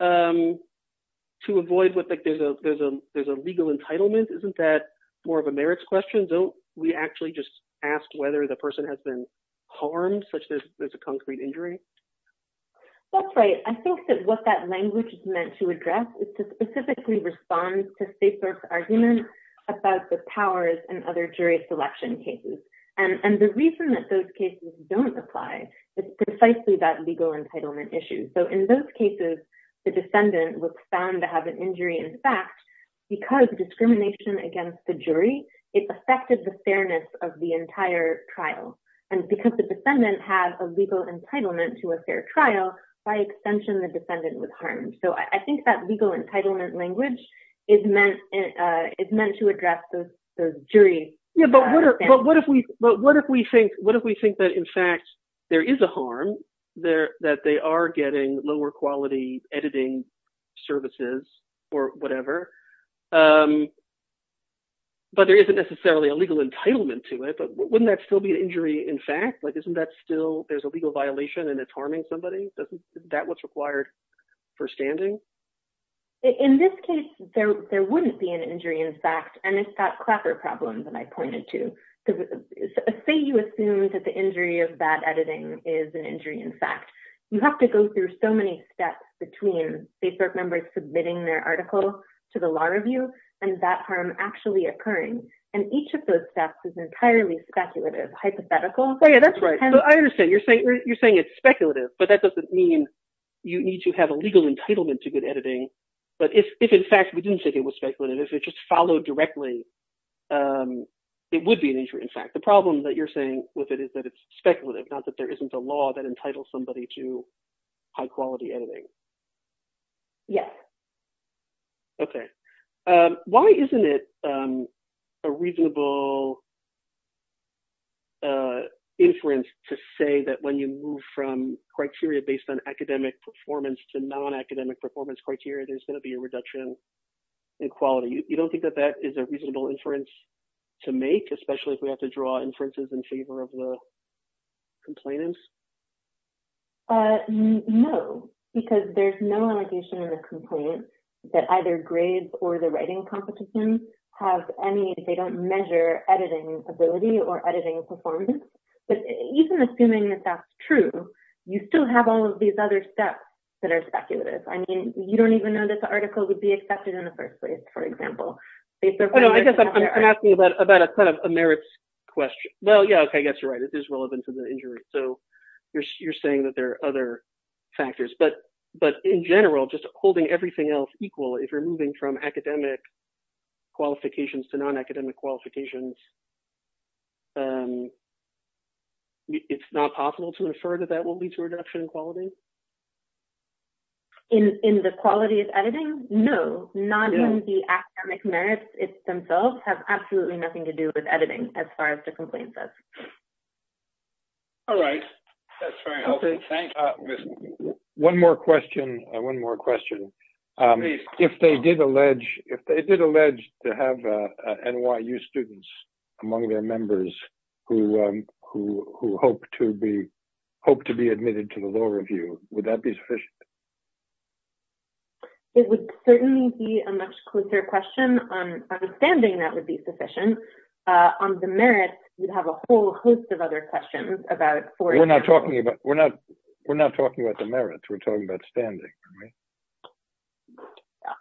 avoid what there's a legal entitlement? Isn't that more of a merits question? Don't we actually just ask whether the person has been harmed such that there's a concrete injury? That's right. I think that what that language is meant to address is to specifically respond to Staples' argument about the powers and other jury selection cases. And the reason that those issues. So in those cases, the descendant was found to have an injury in fact, because discrimination against the jury, it affected the fairness of the entire trial. And because the descendant has a legal entitlement to a fair trial, by extension, the descendant was harmed. So I think that legal entitlement language is meant to address those juries. Yeah, but what if we think that in fact, there is a harm, that they are getting lower quality editing services or whatever, but there isn't necessarily a legal entitlement to it. But wouldn't that still be an injury in fact? Like, isn't that still, there's a legal violation and it's harming somebody? Isn't that what's required for standing? In this case, there is. Say you assume that the injury of that editing is an injury in fact, you have to go through so many steps between Facebook members submitting their article to the law review, and that harm actually occurring. And each of those steps is entirely speculative, hypothetical. Oh, yeah, that's right. I understand. You're saying it's speculative, but that doesn't mean you need to have a legal entitlement to good editing. But if in fact, we didn't think it was speculative, if it just followed directly, it would be an injury. In fact, the problem that you're saying with it is that it's speculative, not that there isn't a law that entitles somebody to high quality editing. Yes. Okay. Why isn't it a reasonable inference to say that when you move from criteria based on academic performance to non-academic performance criteria, there's going to be a reduction in quality. You don't think that that is a reasonable inference to make, especially if we have to draw inferences in favor of the complainants? No, because there's no allegation or a complaint that either grades or the writing competition have any, they don't measure editing ability or editing performance. But even assuming that that's true, you still have all of these other steps that are speculative. I mean, you don't even know that the article would be accepted in the first place, for example. I guess I'm asking about a kind of a merits question. Well, yeah, okay. I guess you're right. It is relevant to the injury. So you're saying that there are other factors, but in general, just holding everything else equal, if you're moving from academic qualifications to non-academic qualifications, it's not possible to infer that that will lead to a reduction in quality? In the quality of editing? No, not in the academic merits themselves. It has absolutely nothing to do with editing, as far as the complaint says. All right. That's very helpful. Thank you. One more question. If they did allege to have NYU students among their members who hoped to be admitted to the law review, would that be sufficient? It would certainly be a much closer question. Understanding that would be sufficient. On the merits, you'd have a whole host of other questions about... We're not talking about the merits. We're talking about standing, right?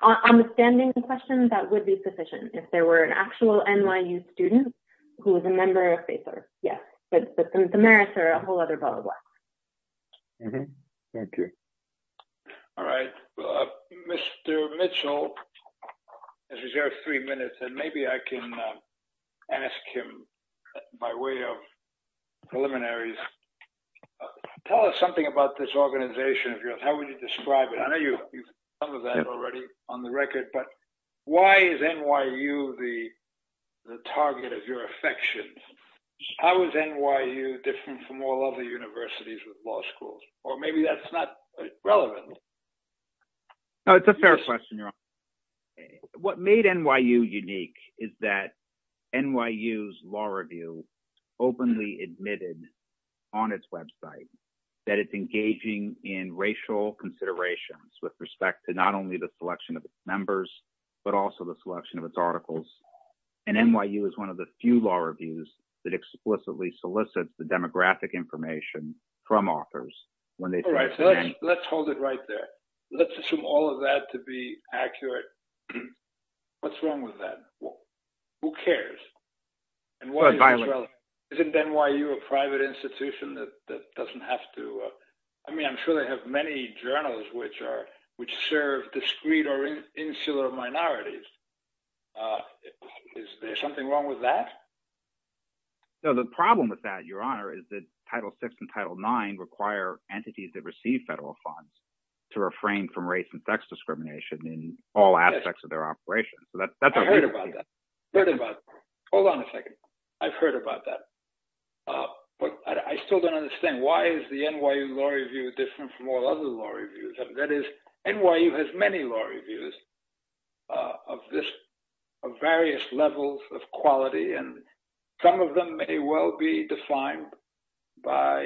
On the standing question, that would be sufficient. If there were an actual NYU student who was a member of FACER, yes. But the merits are a whole other ball of wax. Thank you. All right. Mr. Mitchell has reserved three minutes, and maybe I can ask him, by way of preliminaries, tell us something about this organization of yours. I know you've covered that already on the record, but why is NYU the target of your affections? How is NYU different from all other universities with law schools? Or maybe that's not relevant. No, it's a fair question. What made NYU unique is that NYU's law review openly admitted on its website that it's engaging in racial considerations with respect to not only the selection of its members, but also the selection of its articles. NYU is one of the few law reviews that explicitly solicits the demographic information from authors. Let's hold it right there. Let's assume all of that to be accurate. What's wrong with that? Who cares? Isn't NYU a private institution that doesn't have to? I mean, I'm sure they have many journals which serve discreet or insular minorities. Is there something wrong with that? No, the problem with that, Your Honor, is that Title VI and Title IX require entities that receive federal funds to refrain from race and sex discrimination in all aspects of their operations. I've heard about that. Hold on a second. I've heard about that, but I still don't understand. Why is the NYU law review different from all other law reviews? That is, NYU has many law reviews of various levels of quality, and some of them may well be defined by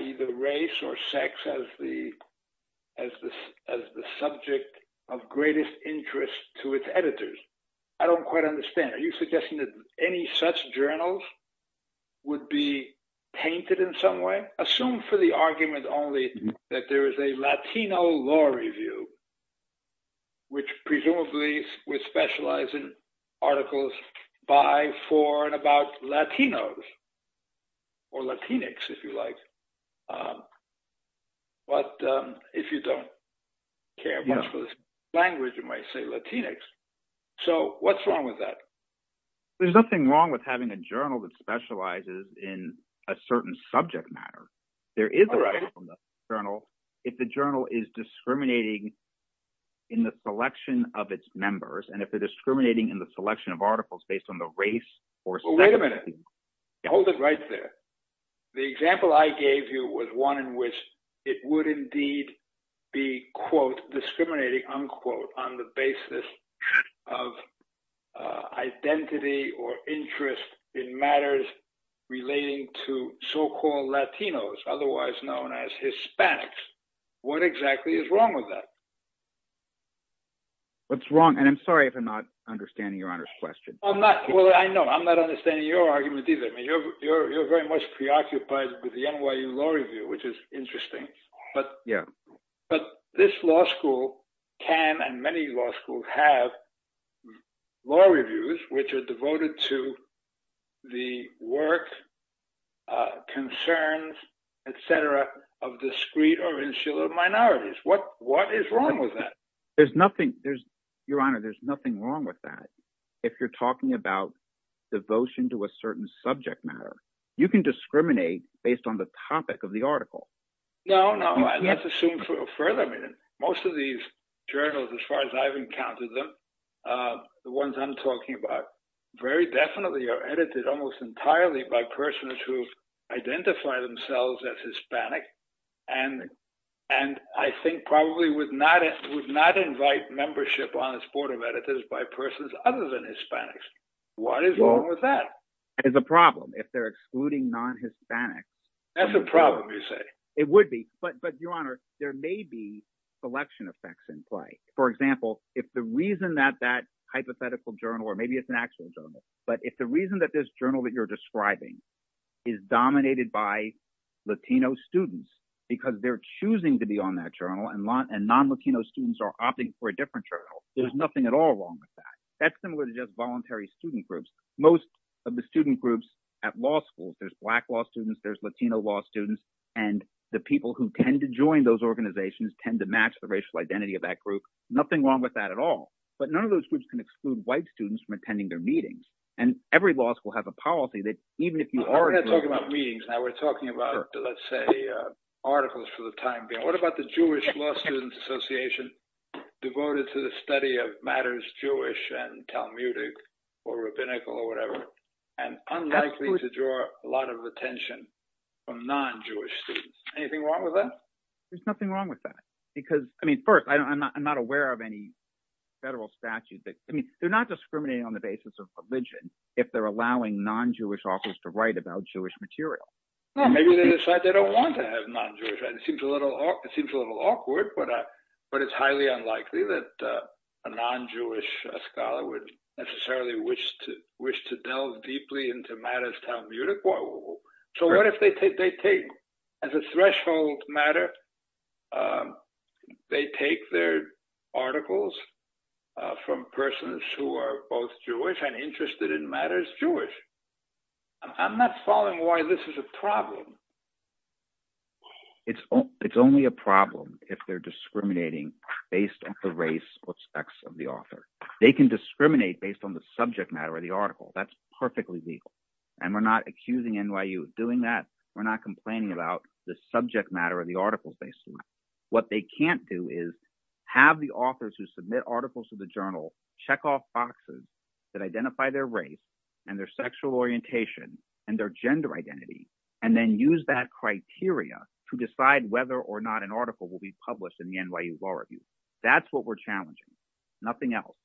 either race or sex as the subject of greatest interest to its editors. I don't quite understand. Are you suggesting that any such journals would be painted in some way? Assume for the argument only that there is a Latino law review, which presumably would specialize in articles by, for, and about but if you don't care much for the language, you might say Latinx. So what's wrong with that? There's nothing wrong with having a journal that specializes in a certain subject matter. There is a right from the journal if the journal is discriminating in the selection of its members, and if they're discriminating in the selection of articles based on the race or... Hold it right there. The example I gave you was one in which it would indeed be, quote, discriminating, unquote, on the basis of identity or interest in matters relating to so-called Latinos, otherwise known as Hispanics. What exactly is wrong with that? What's wrong? And I'm sorry if I'm not understanding your honor's question. I know. I'm not understanding your argument either. I mean, you're very much preoccupied with the NYU Law Review, which is interesting. But this law school can, and many law schools have, law reviews which are devoted to the work, concerns, et cetera, of discreet or insular minorities. What is wrong with that? Your honor, there's nothing wrong with that. If you're talking about devotion to a certain subject matter, you can discriminate based on the topic of the article. No, no. Let's assume further. Most of these journals, as far as I've encountered them, the ones I'm talking about, very definitely are edited almost entirely by persons who identify themselves as Hispanic, and I think probably would not invite membership on this editors by persons other than Hispanics. What is wrong with that? It's a problem if they're excluding non-Hispanics. That's a problem, you say? It would be. But your honor, there may be selection effects in play. For example, if the reason that that hypothetical journal, or maybe it's an actual journal, but if the reason that this journal that you're describing is dominated by Latino students, because they're choosing to be on that journal and non-Latino students are opting for a different journal, there's nothing at all wrong with that. That's similar to just voluntary student groups. Most of the student groups at law schools, there's black law students, there's Latino law students, and the people who tend to join those organizations tend to match the racial identity of that group. Nothing wrong with that at all. But none of those groups can exclude white students from attending their meetings. And every law school has a policy that even if you are- We're not talking about meetings now. We're talking about, let's say, articles for the study of matters Jewish and Talmudic or rabbinical or whatever, and unlikely to draw a lot of attention from non-Jewish students. Anything wrong with that? There's nothing wrong with that. Because, I mean, first, I'm not aware of any federal statutes. I mean, they're not discriminating on the basis of religion if they're allowing non-Jewish authors to write about Jewish material. Maybe they decide they don't want to have non-Jewish. It seems a little awkward, but it's highly unlikely that a non-Jewish scholar would necessarily wish to delve deeply into matters Talmudic. So what if they take, as a threshold matter, they take their articles from persons who are both Jewish and interested in matters Jewish? I'm not following why this is a problem. It's only a problem if they're discriminating based on the race or sex of the author. They can discriminate based on the subject matter of the article. That's perfectly legal. And we're not accusing NYU of doing that. We're not complaining about the subject matter of the article, basically. What they can't do is have the authors who submit articles to the journal check off boxes that identify their race and their sexual orientation and their gender identity, and then use that criteria to decide whether or not an article will be published in the NYU Law Review. That's what we're challenging, nothing else.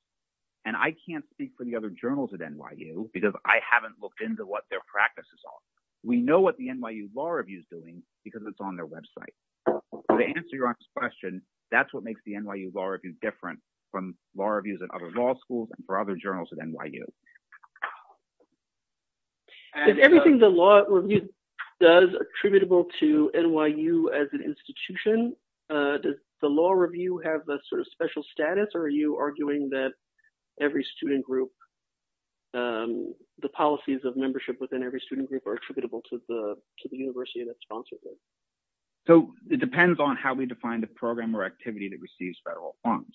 And I can't speak for the other journals at NYU because I haven't looked into what their practices are. We know what the NYU Law Review is doing because it's on their website. To answer your last question, that's what makes the NYU Law Review different from law reviews at other law schools and for other journals at NYU. Is everything the law review does attributable to NYU as an institution? Does the law review have a sort of special status? Or are you arguing that every student group, the policies of membership within every student group are attributable to the university that sponsors it? So it depends on how we define the program or activity that receives federal funds.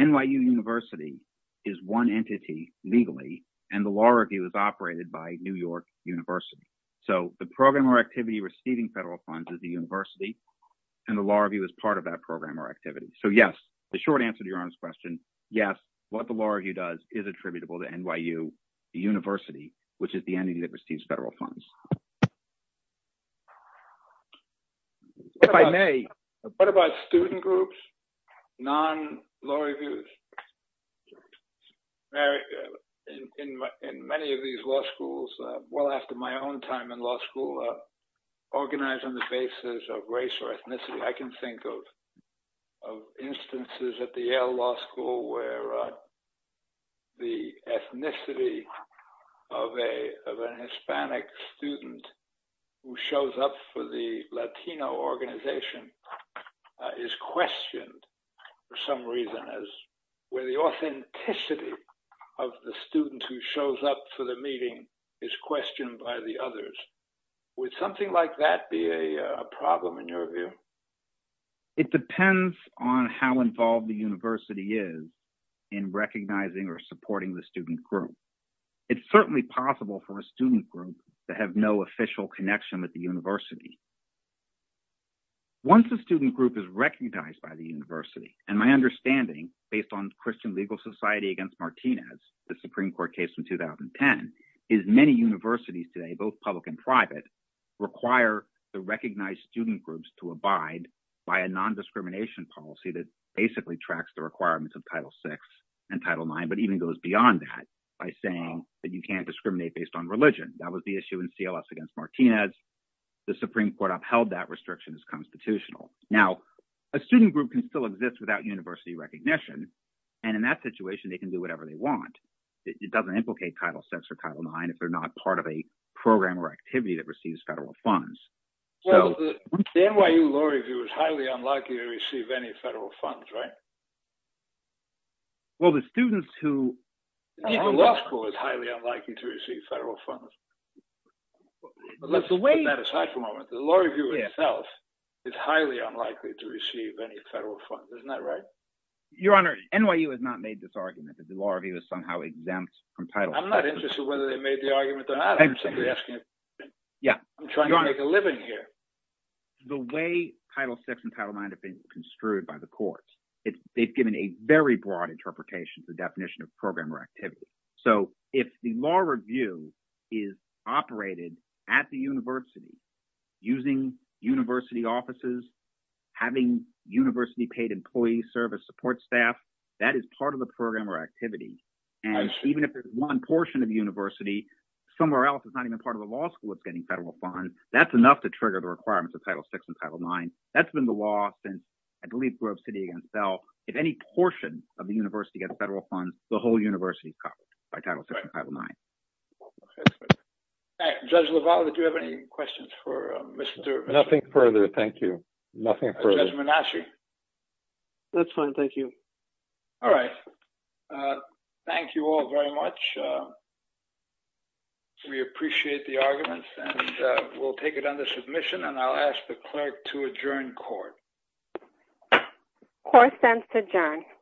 NYU University is one entity legally, and the law review is operated by New York University. So the program or activity receiving federal funds is the university, and the law review is part of that program or activity. So yes, the short answer to your honest question, yes, what the law review does is attributable to NYU University, which is the entity that receives federal funds. What about student groups, non-law reviews? In many of these law schools, well after my own time in law school, organized on the basis of race or ethnicity, I can think of instances at the Yale Law School where the ethnicity of an Hispanic student who shows up for the Latino organization is questioned for some reason, where the authenticity of the student who shows up for the meeting is questioned by the others. Would something like that be a problem in your view? It depends on how involved the university is in recognizing or supporting the student group. It's certainly possible for a student group to have no official connection with the university. Once a student group is recognized by the university, and my understanding based on Christian Legal Society against Martinez, the Supreme Court case from 2010, is many universities both public and private, require the recognized student groups to abide by a non-discrimination policy that basically tracks the requirements of Title VI and Title IX, but even goes beyond that by saying that you can't discriminate based on religion. That was the issue in CLS against Martinez. The Supreme Court upheld that restriction as constitutional. Now, a student group can still exist without university recognition, and in that situation they can do whatever they want. It doesn't implicate Title VI or Title IX if they're not part of a program or activity that receives federal funds. The NYU Law Review is highly unlikely to receive any federal funds, right? Well, the students who leave the law school is highly unlikely to receive federal funds. Let's put that aside for a moment. The Law Review itself is highly unlikely to receive any federal funds. Isn't that right? Your Honor, NYU has not made this argument. The Law Review is somehow exempt from Title VI. I'm not interested whether they made the argument or not. I'm trying to make a living here. The way Title VI and Title IX have been construed by the courts, they've given a very broad interpretation of the definition of program or activity. So, if the Law Review is operated at the university, using university offices, having university-paid employees serve as support staff, that is part of the program or activity. And even if there's one portion of the university, somewhere else that's not even part of the law school that's getting federal funds, that's enough to trigger the requirements of Title VI and Title IX. That's been the law since, I believe, Grove City against Bell. If any portion of the university gets federal funds, the whole university is covered by Title VI and Title IX. Judge LaValle, did you have any questions for Mr. — Nothing further, thank you. Nothing further. Judge Menache. That's fine, thank you. All right. Thank you all very much. We appreciate the arguments and we'll take it under submission and I'll ask the clerk to adjourn court. Court stands to adjourn.